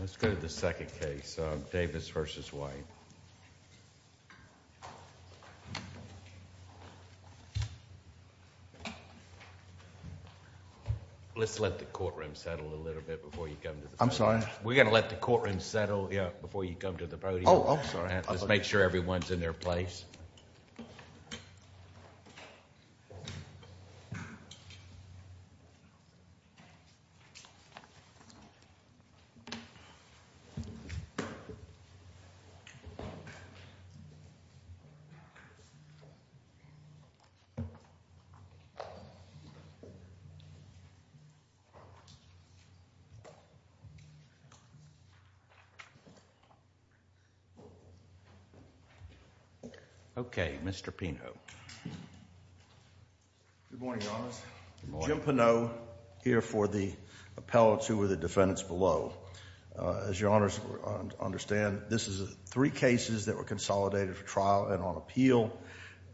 Let's go to the second case, Davis v. White. Let's let the courtroom settle a little bit before you come to the podium. I'm sorry? We're going to let the courtroom settle before you come to the podium. Oh, I'm sorry. Just make sure everyone's in their place. Thank you. Okay, Mr. Pino. Good morning, Your Honors. Good morning. Jim Pino here for the appellates who are the defendants below. As Your Honors understand, this is three cases that were consolidated for trial and on appeal.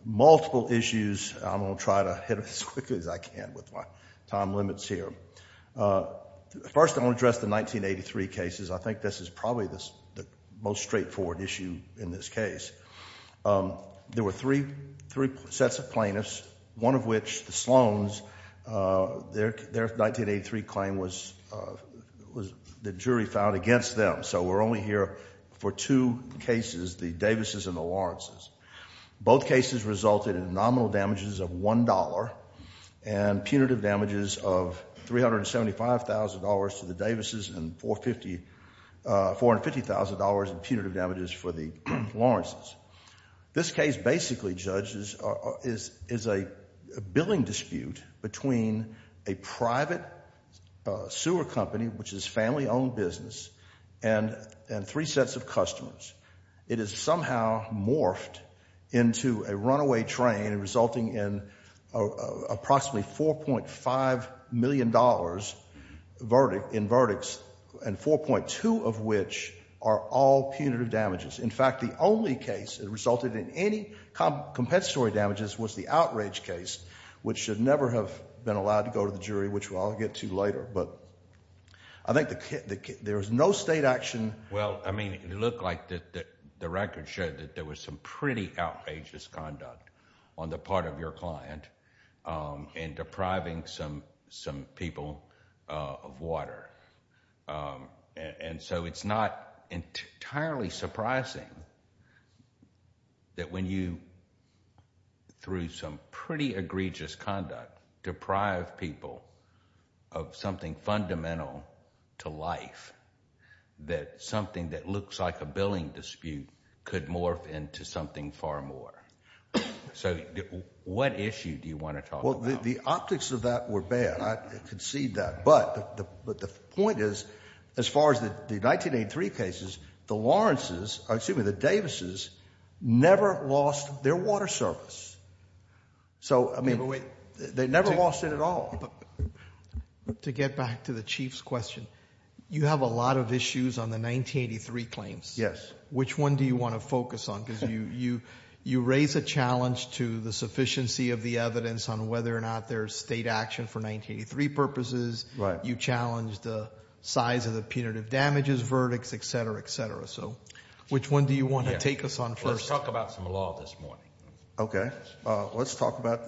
Multiple issues. I'm going to try to hit them as quickly as I can with my time limits here. First, I want to address the 1983 cases. I think this is probably the most straightforward issue in this case. There were three sets of plaintiffs, one of which, the Sloans, their 1983 claim was the jury filed against them. We're only here for two cases, the Davis's and the Lawrence's. Both cases resulted in nominal damages of $1 and punitive damages of $375,000 to the Davis's and $450,000 in punitive damages for the Lawrence's. This case basically, judges, is a billing dispute between a private sewer company, which is family-owned business, and three sets of customers. It is somehow morphed into a runaway train resulting in approximately $4.5 million in verdicts and 4.2 of which are all punitive damages. In fact, the only case that resulted in any compensatory damages was the Outrage case, which should never have been allowed to go to the jury, which I'll get to later. But I think there was no state action. Well, I mean, it looked like the record showed that there was some pretty outrageous conduct on the part of your client in depriving some people of water. And so it's not entirely surprising that when you, through some pretty egregious conduct, deprive people of something fundamental to life, that something that looks like a billing dispute could morph into something far more. So what issue do you want to talk about? Well, the optics of that were bad. I concede that. But the point is, as far as the 1983 cases, the Lawrences, excuse me, the Davises, never lost their water service. So, I mean, they never lost it at all. To get back to the Chief's question, you have a lot of issues on the 1983 claims. Yes. Which one do you want to focus on? Because you raise a challenge to the sufficiency of the evidence on whether or not there's state action for 1983 purposes. Right. You challenge the size of the punitive damages verdicts, et cetera, et cetera. So which one do you want to take us on first? Let's talk about some law this morning. Okay. Let's talk about,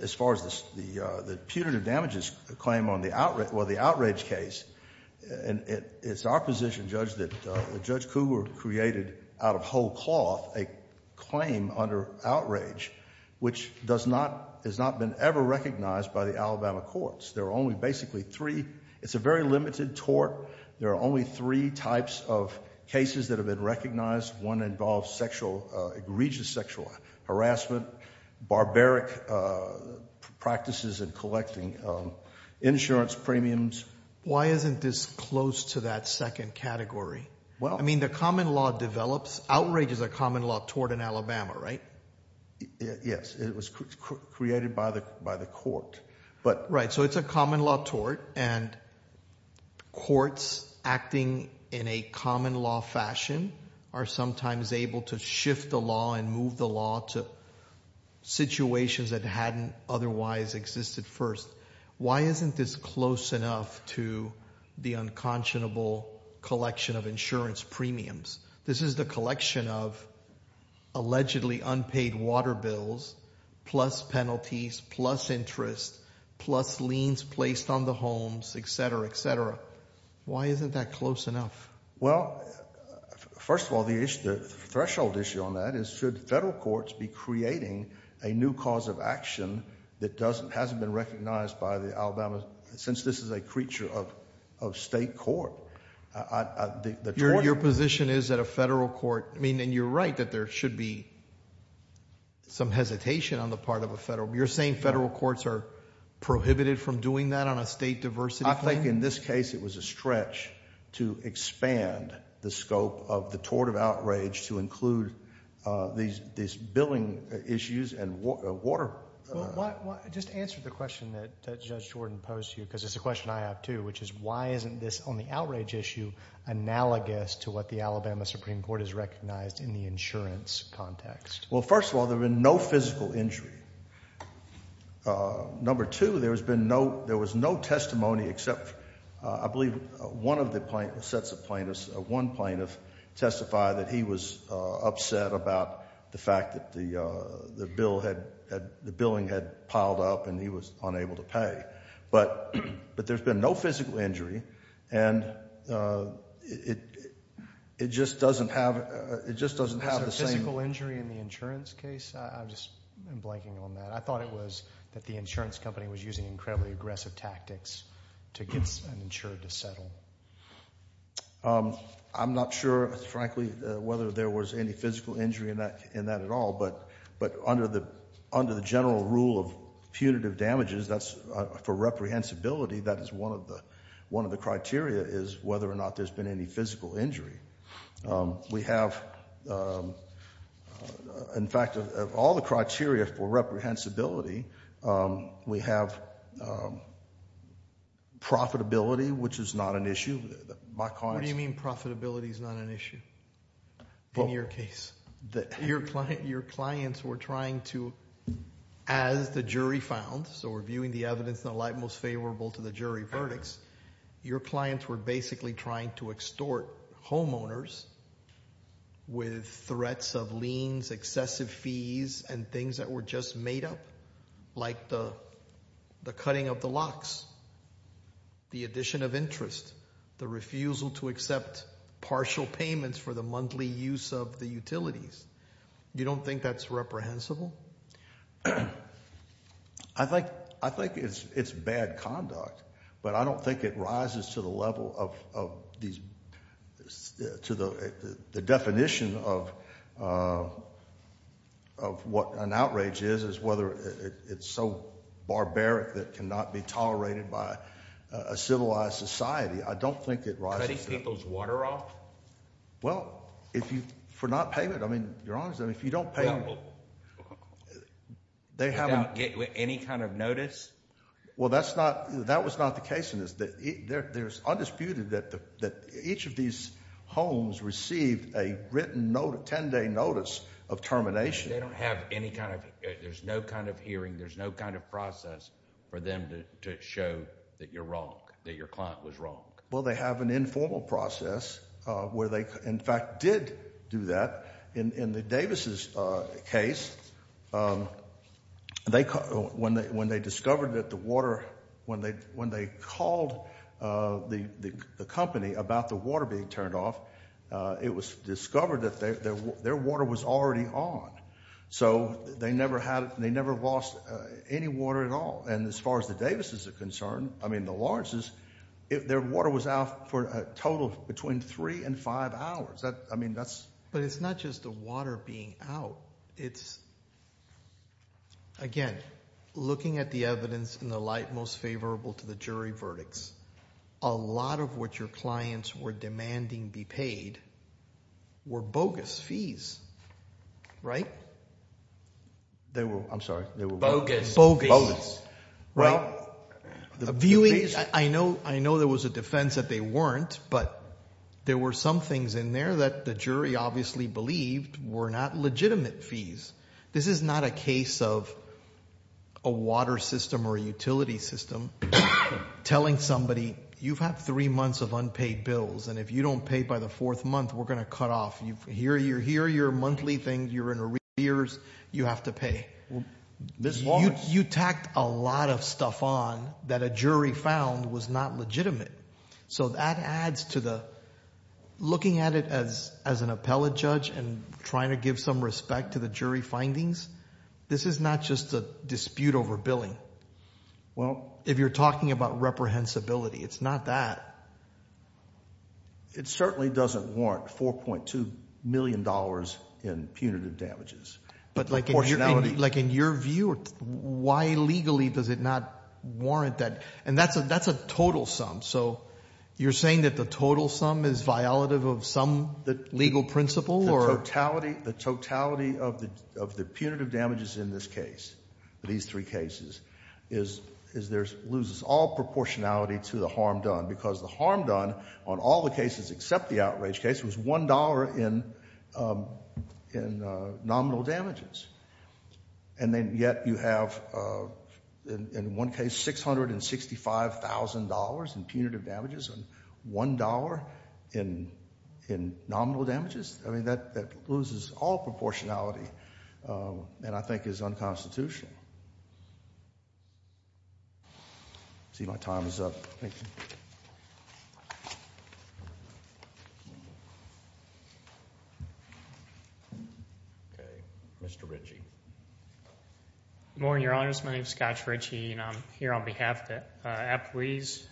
as far as the punitive damages claim on the outrage case. It's our position, Judge, that Judge Cougar created out of whole cloth a claim under outrage, which has not been ever recognized by the Alabama courts. There are only basically three. It's a very limited tort. There are only three types of cases that have been recognized. One involves sexual, egregious sexual harassment, barbaric practices in collecting insurance premiums. Why isn't this close to that second category? I mean, the common law develops. Outrage is a common law tort in Alabama, right? Yes. It was created by the court. Right. So it's a common law tort, and courts acting in a common law fashion are sometimes able to shift the law and move the law to situations that hadn't otherwise existed first. Why isn't this close enough to the unconscionable collection of insurance premiums? This is the collection of allegedly unpaid water bills, plus penalties, plus interest, plus liens placed on the homes, etc., etc. Why isn't that close enough? Well, first of all, the issue, the threshold issue on that is should federal courts be creating a new cause of action that doesn't, hasn't been recognized by the Alabama, since this is a creature of state court. Your position is that a federal court, I mean, and you're right that there should be some hesitation on the part of a federal. You're saying federal courts are prohibited from doing that on a state diversity thing? I think in this case it was a stretch to expand the scope of the tort of outrage to include these billing issues and water. Just answer the question that Judge Jordan posed to you, because it's a question I have too, which is why isn't this on the outrage issue analogous to what the Alabama Supreme Court has recognized in the insurance context? Well, first of all, there's been no physical injury. Number two, there has been no, there was no testimony except, I believe one of the plaintiffs, one plaintiff testified that he was upset about the fact that the bill had, the billing had piled up and he was unable to pay. But there's been no physical injury, and it just doesn't have, it just doesn't have the same. Was there a physical injury in the insurance case? I'm just blanking on that. I thought it was that the insurance company was using incredibly aggressive tactics to get an insurer to settle. I'm not sure, frankly, whether there was any physical injury in that at all. But under the general rule of punitive damages, that's for reprehensibility, that is one of the criteria is whether or not there's been any physical injury. We have, in fact, of all the criteria for reprehensibility, we have profitability, which is not an issue. What do you mean profitability is not an issue in your case? Your clients were trying to, as the jury found, so we're viewing the evidence in the light most favorable to the jury verdicts. Your clients were basically trying to extort homeowners with threats of liens, excessive fees, and things that were just made up, like the cutting of the locks, the addition of interest, the refusal to accept partial payments for the monthly use of the utilities. You don't think that's reprehensible? I think it's bad conduct, but I don't think it rises to the level of these, to the definition of what an outrage is, is whether it's so barbaric that it cannot be tolerated by a civilized society. I don't think it rises to that. Could he take those water off? Well, if you, for not payment. I mean, you're honest. If you don't pay them. Without any kind of notice? Well, that was not the case in this. There's undisputed that each of these homes received a written 10-day notice of termination. They don't have any kind of, there's no kind of hearing, there's no kind of process for them to show that you're wrong, that your client was wrong. Well, they have an informal process where they, in fact, did do that. In the Davis's case, when they discovered that the water, when they called the company about the water being turned off, it was discovered that their water was already on. So they never lost any water at all. And as far as the Davis's are concerned, I mean, the Lawrence's, their water was out for a total of between three and five hours. I mean, that's- But it's not just the water being out. It's, again, looking at the evidence in the light most favorable to the jury verdicts, a lot of what your clients were demanding be paid were bogus fees, right? They were, I'm sorry, they were- Bogus. Bogus. Bogus. Well- Viewing, I know there was a defense that they weren't, but there were some things in there that the jury obviously believed were not legitimate fees. This is not a case of a water system or a utility system telling somebody, you've had three months of unpaid bills, and if you don't pay by the fourth month, we're going to cut off. Here are your monthly things. You're in arrears. You have to pay. This was- You tacked a lot of stuff on that a jury found was not legitimate. So that adds to the- Looking at it as an appellate judge and trying to give some respect to the jury findings, this is not just a dispute over billing. Well- If you're talking about reprehensibility, it's not that. It certainly doesn't warrant $4.2 million in punitive damages. But like in your view- Why legally does it not warrant that? And that's a total sum. So you're saying that the total sum is violative of some legal principle or- The totality of the punitive damages in this case, these three cases, loses all proportionality to the harm done, because the harm done on all the cases except the outrage case was $1 in nominal damages. And then yet you have, in one case, $665,000 in punitive damages and $1 in nominal damages. I mean, that loses all proportionality and I think is unconstitutional. I see my time is up. Thank you. Thank you. Okay, Mr. Ritchie. Good morning, Your Honors. My name is Scott Ritchie and I'm here on behalf of the appellees.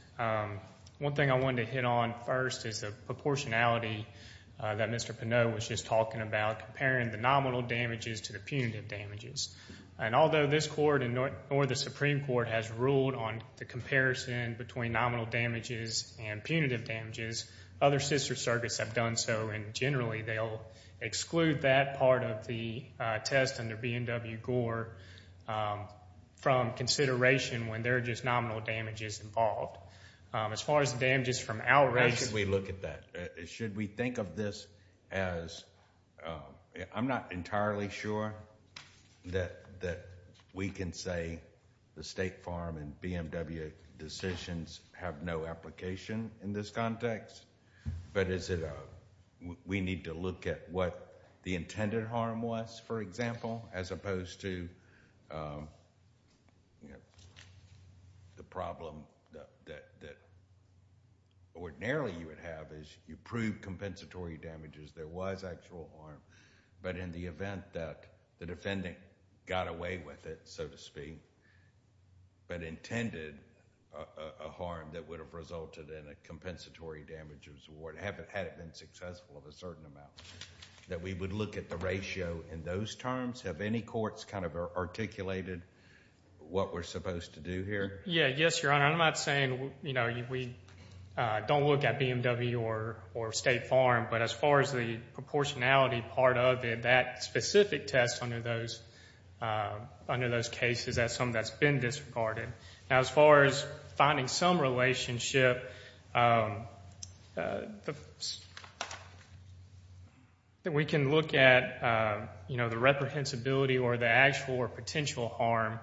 One thing I wanted to hit on first is the proportionality that Mr. Pinot was just talking about, comparing the nominal damages to the punitive damages. And although this court and nor the Supreme Court has ruled on the comparison between nominal damages and punitive damages, other sister circuits have done so, and generally they'll exclude that part of the test under B&W Gore from consideration when there are just nominal damages involved. As far as the damages from outrage- How should we look at that? Should we think of this as- I'm not entirely sure that we can say the State Farm and B&W decisions have no application in this context, but we need to look at what the intended harm was, for example, as opposed to the problem that ordinarily you would have is you prove compensatory damages. There was actual harm, but in the event that the defendant got away with it, so to speak, but intended a harm that would have resulted in a compensatory damages award, had it been successful of a certain amount, that we would look at the ratio in those terms? Have any courts kind of articulated what we're supposed to do here? Yes, Your Honor. I'm not saying we don't look at B&W or State Farm, but as far as the proportionality part of it, that specific test under those cases, that's something that's been disregarded. Now, as far as finding some relationship, we can look at the reprehensibility or the actual or potential harm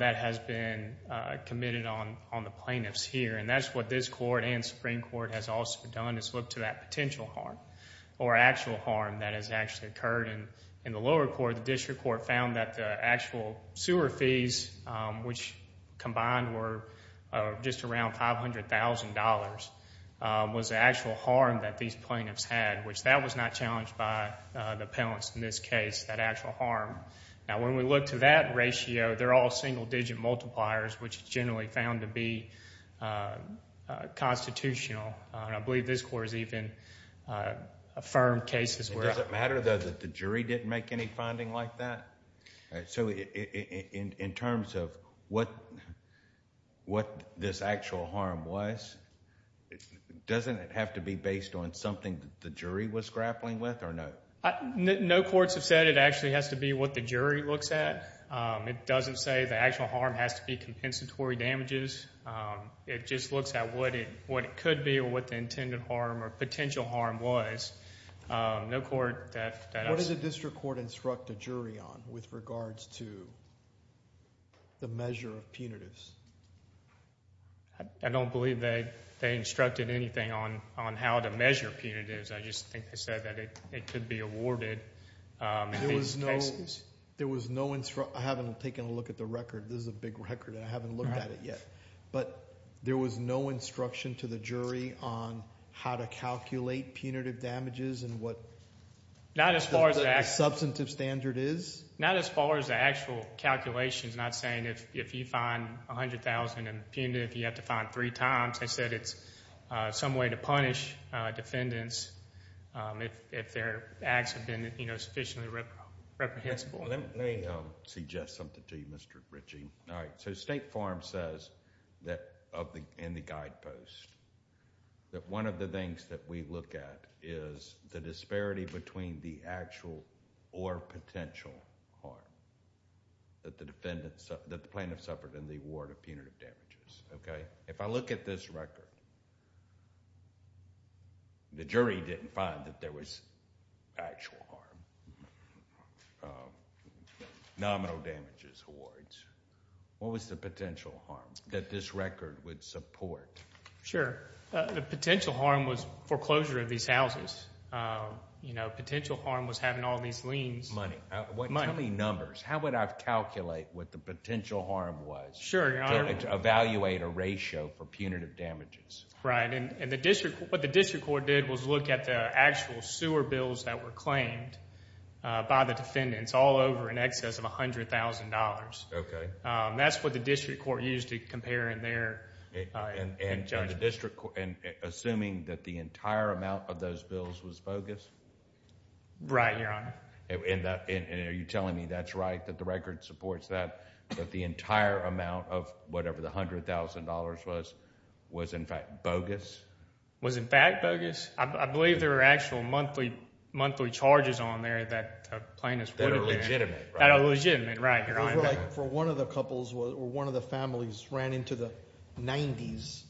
that has been committed on the plaintiffs here. And that's what this court and Supreme Court has also done, is look to that potential harm or actual harm that has actually occurred. In the lower court, the district court found that the actual sewer fees, which combined were just around $500,000, was the actual harm that these plaintiffs had, which that was not challenged by the appellants in this case, that actual harm. Now, when we look to that ratio, they're all single-digit multipliers, which is generally found to be constitutional. The jury didn't make any finding like that? So in terms of what this actual harm was, doesn't it have to be based on something that the jury was grappling with or no? No courts have said it actually has to be what the jury looks at. It doesn't say the actual harm has to be compensatory damages. It just looks at what it could be or what the intended harm or potential harm was. No court that has— What did the district court instruct the jury on with regards to the measure of punitives? I don't believe they instructed anything on how to measure punitives. I just think they said that it could be awarded in these cases. There was no—I haven't taken a look at the record. This is a big record, and I haven't looked at it yet. But there was no instruction to the jury on how to calculate punitive damages and what the substantive standard is? Not as far as the actual calculations. Not saying if you find $100,000 in punitive, you have to find it three times. They said it's some way to punish defendants if their acts have been sufficiently reprehensible. Let me suggest something to you, Mr. Ritchie. State Farm says in the guidepost that one of the things that we look at is the disparity between the actual or potential harm that the plaintiff suffered in the award of punitive damages. If I look at this record, the jury didn't find that there was actual harm. Nominal damages awards. What was the potential harm that this record would support? Sure. The potential harm was foreclosure of these houses. Potential harm was having all these liens. Money. Money. Tell me numbers. How would I calculate what the potential harm was to evaluate a ratio for punitive damages? Right. What the district court did was look at the actual sewer bills that were claimed by the defendants all over in excess of $100,000. That's what the district court used to compare in their judgment. Assuming that the entire amount of those bills was bogus? Right, Your Honor. Are you telling me that's right, that the record supports that, that the entire amount of whatever the $100,000 was, was in fact bogus? Was in fact bogus? I believe there were actual monthly charges on there that a plaintiff would have had. That are legitimate, right? That are legitimate, right, Your Honor. For one of the couples or one of the families ran into the 90s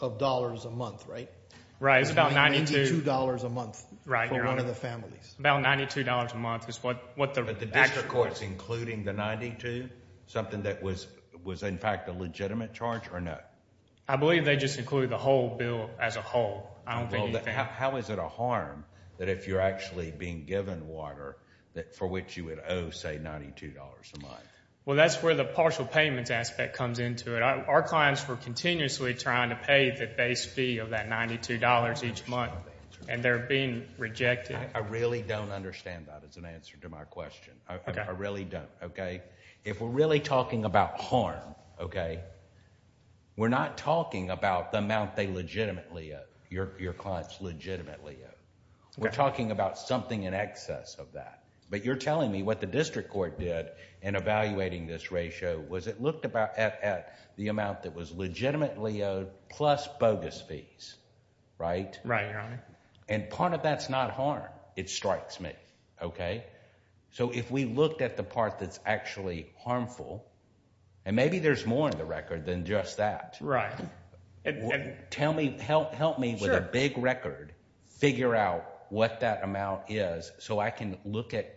of dollars a month, right? Right. It's about $92 a month for one of the families. About $92 a month. But the district court's including the $92, something that was in fact a legitimate charge or not? I believe they just included the whole bill as a whole. I don't think anything... How is it a harm that if you're actually being given water for which you would owe, say, $92 a month? Well, that's where the partial payments aspect comes into it. Our clients were continuously trying to pay the base fee of that $92 each month, and they're being rejected. I really don't understand that as an answer to my question. I really don't, okay? If we're really talking about harm, okay, we're not talking about the amount they legitimately owe. Your clients legitimately owe. We're talking about something in excess of that. But you're telling me what the district court did in evaluating this ratio was it looked at the amount that was legitimately owed plus bogus fees, right? Right, Your Honor. And part of that's not harm. It strikes me, okay? So if we looked at the part that's actually harmful, and maybe there's more in the record than just that. Right. Tell me, help me with a big record, figure out what that amount is so I can look at,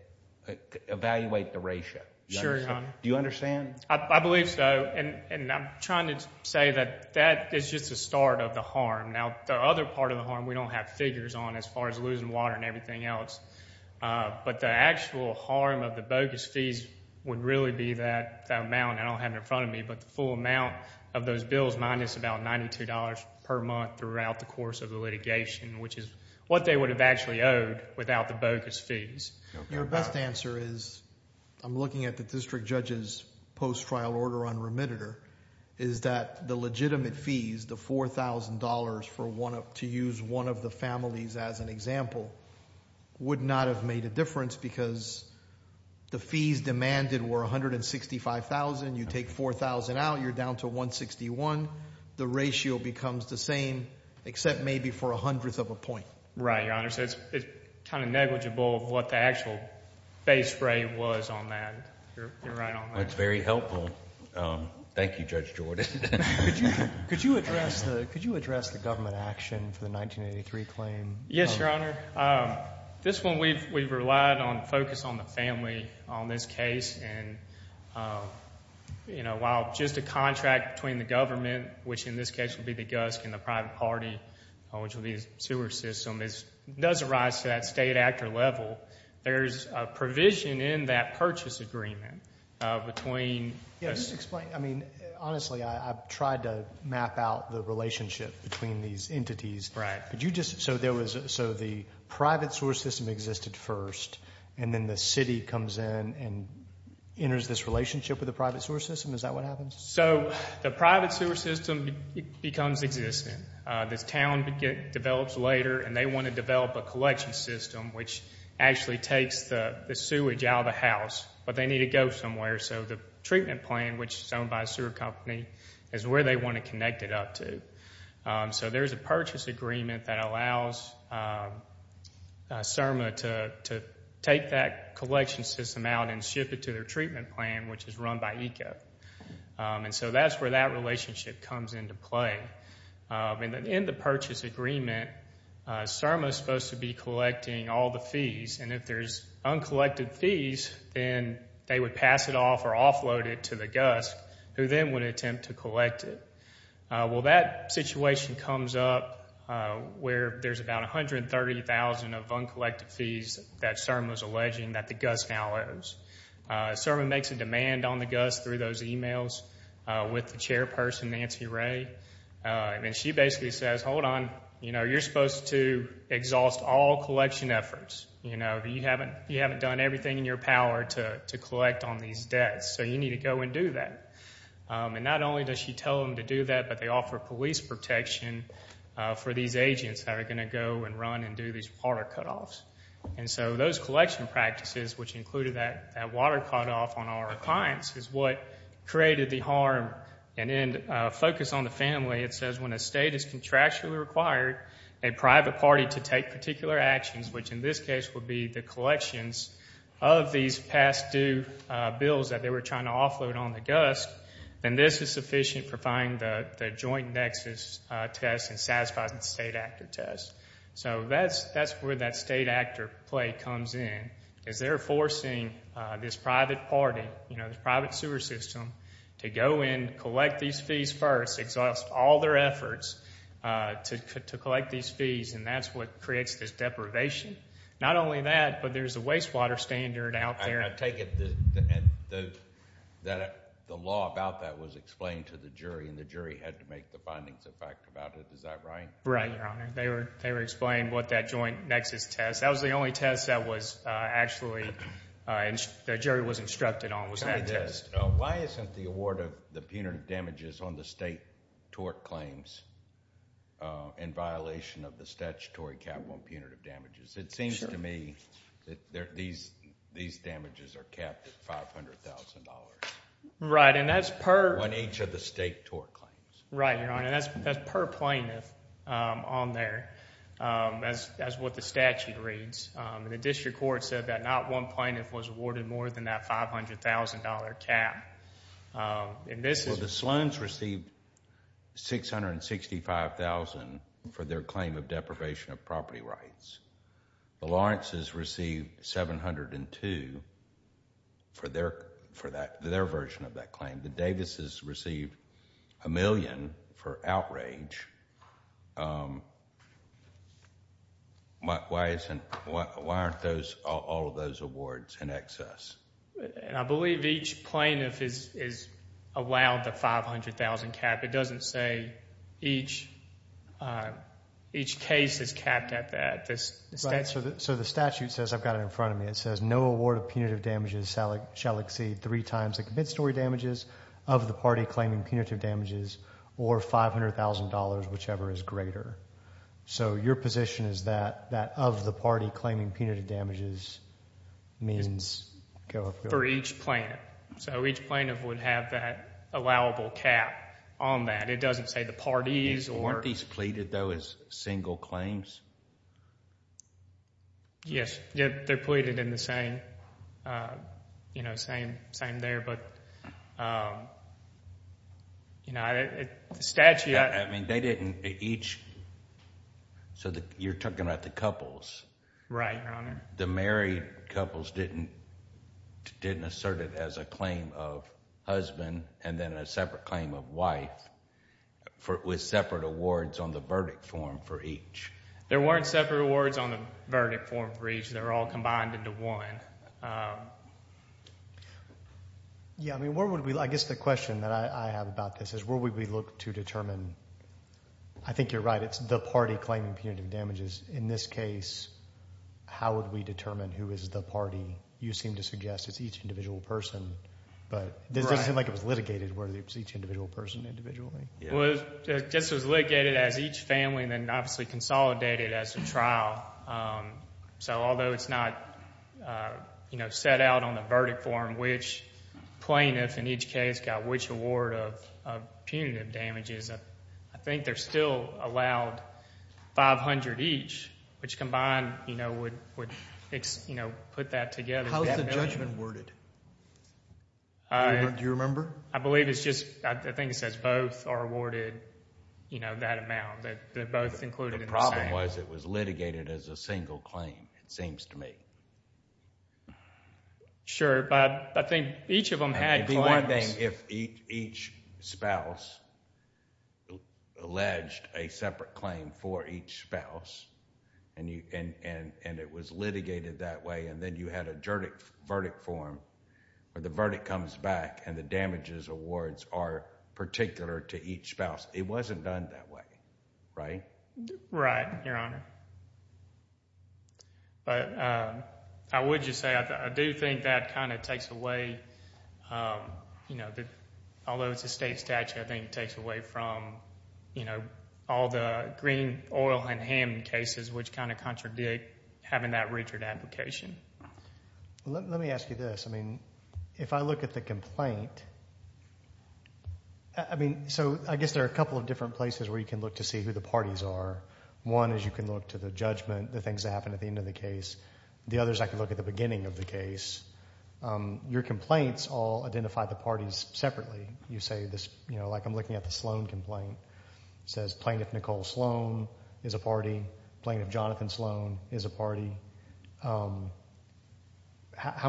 evaluate the ratio. Sure, Your Honor. Do you understand? I believe so, and I'm trying to say that that is just the start of the harm. Now, the other part of the harm we don't have figures on as far as losing water and everything else. But the actual harm of the bogus fees would really be that amount, I don't have it in front of me, but the full amount of those bills minus about $92 per month throughout the course of the litigation, which is what they would have actually owed without the bogus fees. Your best answer is, I'm looking at the district judge's post-trial order on remitter, is that the legitimate fees, the $4,000, to use one of the families as an example, would not have made a difference because the fees demanded were $165,000. You take $4,000 out, you're down to $161,000. The ratio becomes the same, except maybe for a hundredth of a point. Right, Your Honor. So it's kind of negligible what the actual base rate was on that. You're right on that. That's very helpful. Thank you, Judge Jordan. Could you address the government action for the 1983 claim? Yes, Your Honor. This one we've relied on, focused on the family on this case. While just a contract between the government, which in this case would be the GUSC and the private party, which would be the sewer system, does arise to that state actor level, there's a provision in that purchase agreement between Yes, explain. I mean, honestly, I've tried to map out the relationship between these entities. Right. So the private sewer system existed first, and then the city comes in and enters this relationship with the private sewer system? Is that what happens? So the private sewer system becomes existent. This town develops later, and they want to develop a collection system, which actually takes the sewage out of the house, but they need to go somewhere. So the treatment plan, which is owned by a sewer company, is where they want to connect it up to. So there's a purchase agreement that allows CIRMA to take that collection system out and ship it to their treatment plan, which is run by ECO. And so that's where that relationship comes into play. In the purchase agreement, CIRMA is supposed to be collecting all the fees, and if there's uncollected fees, then they would pass it off or offload it to the GUSC, who then would attempt to collect it. Well, that situation comes up where there's about 130,000 of uncollected fees that CIRMA is alleging that the GUSC now owes. CIRMA makes a demand on the GUSC through those emails with the chairperson, Nancy Ray, and she basically says, hold on, you're supposed to exhaust all collection efforts. You haven't done everything in your power to collect on these debts, so you need to go and do that. And not only does she tell them to do that, but they offer police protection for these agents that are going to go and run and do these water cutoffs. And so those collection practices, which included that water cutoff on our clients, is what created the harm. And then focus on the family. It says when a state is contractually required a private party to take particular actions, which in this case would be the collections of these past due bills that they were trying to offload on the GUSC, then this is sufficient for finding the joint nexus test and satisfying the state actor test. So that's where that state actor play comes in, is they're forcing this private party, this private sewer system, to go in, collect these fees first, exhaust all their efforts to collect these fees, and that's what creates this deprivation. Not only that, but there's a wastewater standard out there. I take it that the law about that was explained to the jury, and the jury had to make the findings of fact about it. Is that right? Right, Your Honor. They were explained what that joint nexus test. That was the only test that was actually, that jury was instructed on, was that test. Tell me this. Why isn't the award of the punitive damages on the state tort claims in violation of the statutory cap on punitive damages? It seems to me that these damages are capped at $500,000. Right, and that's per— On each of the state tort claims. Right, Your Honor. That's per plaintiff on there, as what the statute reads. The district court said that not one plaintiff was awarded more than that $500,000 cap. Well, the Sloans received $665,000 for their claim of deprivation of property rights. The Lawrences received $702,000 for their version of that claim. The Davises received $1,000,000 for outrage. Why aren't all of those awards in excess? I believe each plaintiff is allowed the $500,000 cap. It doesn't say each case is capped at that. Right, so the statute says, I've got it in front of me, it says, No award of punitive damages shall exceed three times the commit-story damages of the party claiming punitive damages or $500,000, whichever is greater. So your position is that that of the party claiming punitive damages means— For each plaintiff. So each plaintiff would have that allowable cap on that. It doesn't say the parties or— Aren't these pleaded, though, as single claims? Yes, they're pleaded in the same, you know, same there, but, you know, the statute— I mean, they didn't each—so you're talking about the couples. Right, Your Honor. The married couples didn't assert it as a claim of husband and then a separate claim of wife with separate awards on the verdict form for each. There weren't separate awards on the verdict form for each. They were all combined into one. Yeah, I mean, where would we—I guess the question that I have about this is where would we look to determine— I think you're right, it's the party claiming punitive damages. In this case, how would we determine who is the party? You seem to suggest it's each individual person. But it doesn't seem like it was litigated where it's each individual person individually. Well, I guess it was litigated as each family and then obviously consolidated as a trial. So although it's not, you know, set out on the verdict form which plaintiff in each case got which award of punitive damages, I think they're still allowed 500 each, which combined, you know, would put that together. How is the judgment worded? Do you remember? I believe it's just—I think it says both are awarded, you know, that amount. They're both included in the same. The problem was it was litigated as a single claim, it seems to me. Sure, but I think each of them had— It'd be one thing if each spouse alleged a separate claim for each spouse and it was litigated that way and then you had a verdict form where the verdict comes back and the damages awards are particular to each spouse. It wasn't done that way, right? Right, Your Honor. But I would just say I do think that kind of takes away, you know, although it's a state statute, I think it takes away from, you know, all the green oil and ham cases which kind of contradict having that Richard application. Let me ask you this. I mean, if I look at the complaint, I mean, so I guess there are a couple of different places where you can look to see who the parties are. One is you can look to the judgment, the things that happened at the end of the case. The other is I can look at the beginning of the case. Your complaints all identify the parties separately. You say this, you know, like I'm looking at the Sloan complaint. It says Plaintiff Nicole Sloan is a party. Plaintiff Jonathan Sloan is a party. How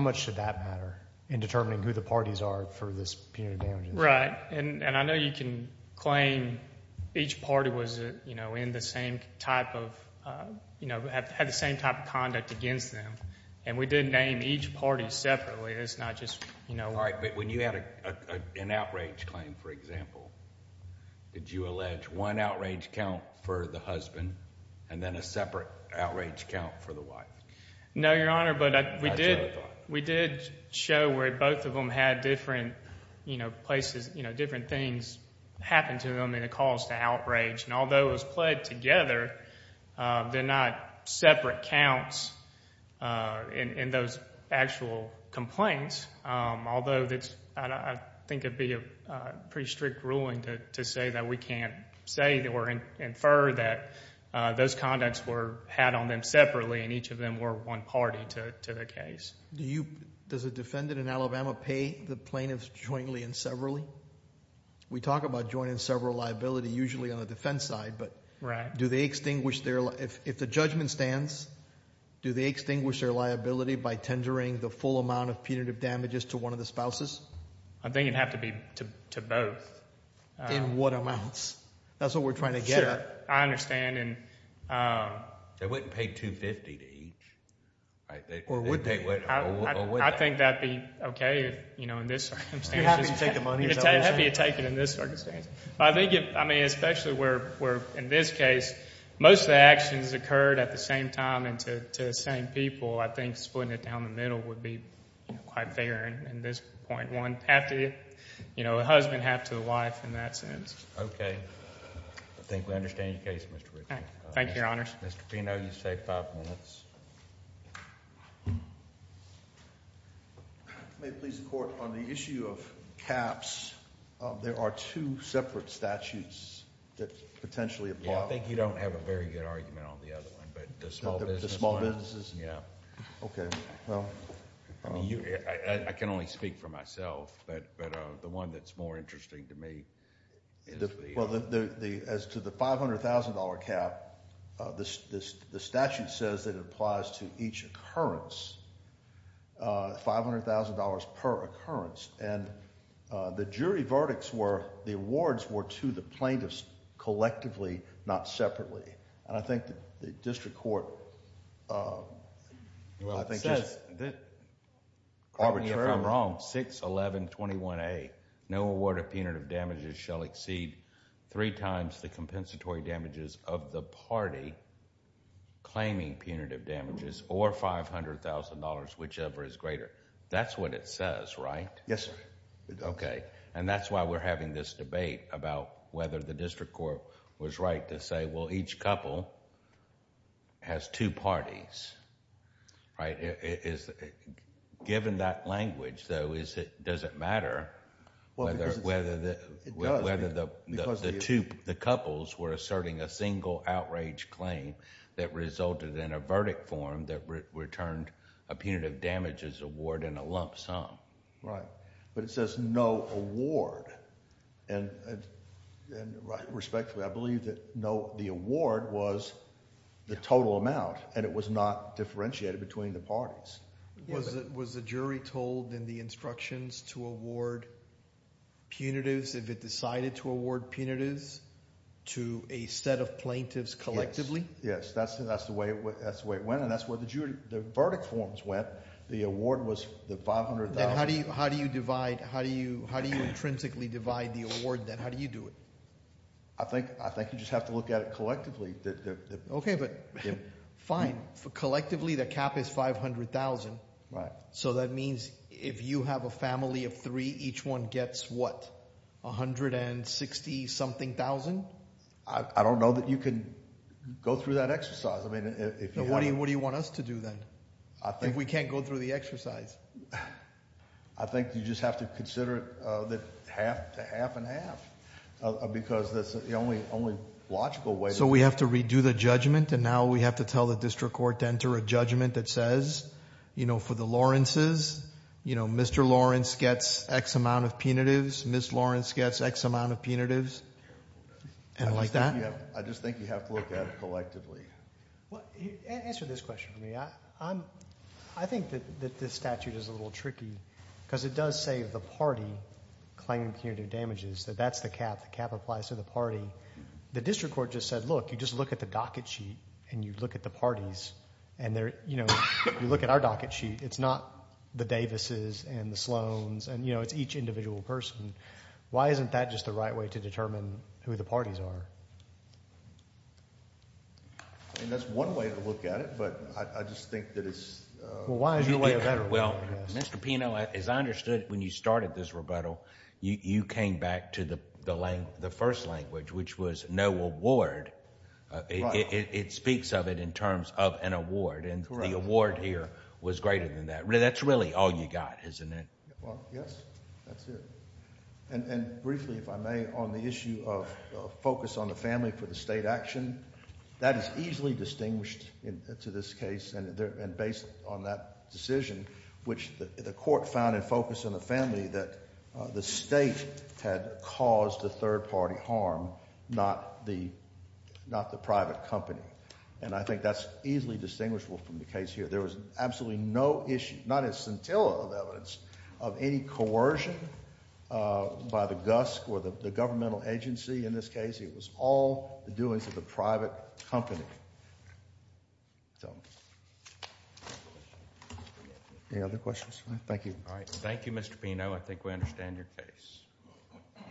much should that matter in determining who the parties are for this punitive damages? Right, and I know you can claim each party was, you know, in the same type of, you know, had the same type of conduct against them, and we did name each party separately. It's not just, you know— I'm sorry, but when you had an outrage claim, for example, did you allege one outrage count for the husband and then a separate outrage count for the wife? No, Your Honor, but we did show where both of them had different, you know, places, you know, different things happen to them and it caused the outrage. And although it was played together, they're not separate counts in those actual complaints. Although I think it would be a pretty strict ruling to say that we can't say or infer that those conducts were had on them separately and each of them were one party to the case. Does a defendant in Alabama pay the plaintiffs jointly and severally? We talk about joint and several liability usually on the defense side, but do they extinguish their— I think it would have to be to both. In what amounts? That's what we're trying to get at. Sure. I understand and— They wouldn't pay $250 to each, right? Or would they? I think that would be okay, you know, in this circumstance. You're happy to take the money, is that what you're saying? I'm happy to take it in this circumstance. I think, I mean, especially where, in this case, most of the actions occurred at the same time and to the same people. I think splitting it down the middle would be quite fair in this point. One, half to the husband, half to the wife in that sense. Okay. I think we understand your case, Mr. Richman. Thank you, Your Honors. Mr. Fino, you've saved five minutes. May it please the Court, on the issue of caps, there are two separate statutes that potentially apply. Yeah, I think you don't have a very good argument on the other one, but the small business one— The small businesses? Yeah. Okay. I can only speak for myself, but the one that's more interesting to me is the— Well, as to the $500,000 cap, the statute says that it applies to each occurrence, $500,000 per occurrence. And the jury verdicts were—the awards were to the plaintiffs collectively, not separately. And I think the district court— Well, it says that— Arbitrarily— Correct me if I'm wrong, 61121A, no award of punitive damages shall exceed three times the compensatory damages of the party claiming punitive damages or $500,000, whichever is greater. That's what it says, right? Yes, sir. Okay. And that's why we're having this debate about whether the district court was right to say, well, each couple has two parties, right? Given that language, though, does it matter whether the couples were asserting a single outrage claim that resulted in a verdict form that returned a punitive damages award and a lump sum? Right. But it says no award. And respectfully, I believe that no—the award was the total amount, and it was not differentiated between the parties. Was the jury told in the instructions to award punitives if it decided to award punitives to a set of plaintiffs collectively? Yes. Yes. That's the way it went, and that's where the verdict forms went. The award was the $500,000— Then how do you divide? How do you intrinsically divide the award, then? How do you do it? I think you just have to look at it collectively. Okay, but fine. Collectively, the cap is $500,000. Right. So that means if you have a family of three, each one gets what? $160-something thousand? I don't know that you can go through that exercise. I mean, if you have— What do you want us to do, then? I think— I think you just have to consider that half to half and half, because that's the only logical way— So we have to redo the judgment, and now we have to tell the district court to enter a judgment that says, you know, for the Lawrences, you know, Mr. Lawrence gets X amount of punitives, Ms. Lawrence gets X amount of punitives, and like that? I just think you have to look at it collectively. Answer this question for me. I think that this statute is a little tricky because it does say the party claimed punitive damages. That's the cap. The cap applies to the party. The district court just said, look, you just look at the docket sheet, and you look at the parties. And, you know, you look at our docket sheet. It's not the Davises and the Sloans, and, you know, it's each individual person. Why isn't that just the right way to determine who the parties are? I mean, that's one way to look at it, but I just think that it's— Well, why is your way better? Well, Mr. Pino, as I understood, when you started this rebuttal, you came back to the first language, which was no award. It speaks of it in terms of an award, and the award here was greater than that. That's really all you got, isn't it? Well, yes, that's it. And briefly, if I may, on the issue of focus on the family for the state action, that is easily distinguished to this case and based on that decision, which the court found in focus on the family that the state had caused the third-party harm, not the private company. And I think that's easily distinguishable from the case here. There was absolutely no issue, not a scintilla of evidence, of any coercion by the GUSC or the governmental agency in this case. It was all the doings of the private company. Any other questions? Thank you. Thank you, Mr. Pino. I think we understand your case.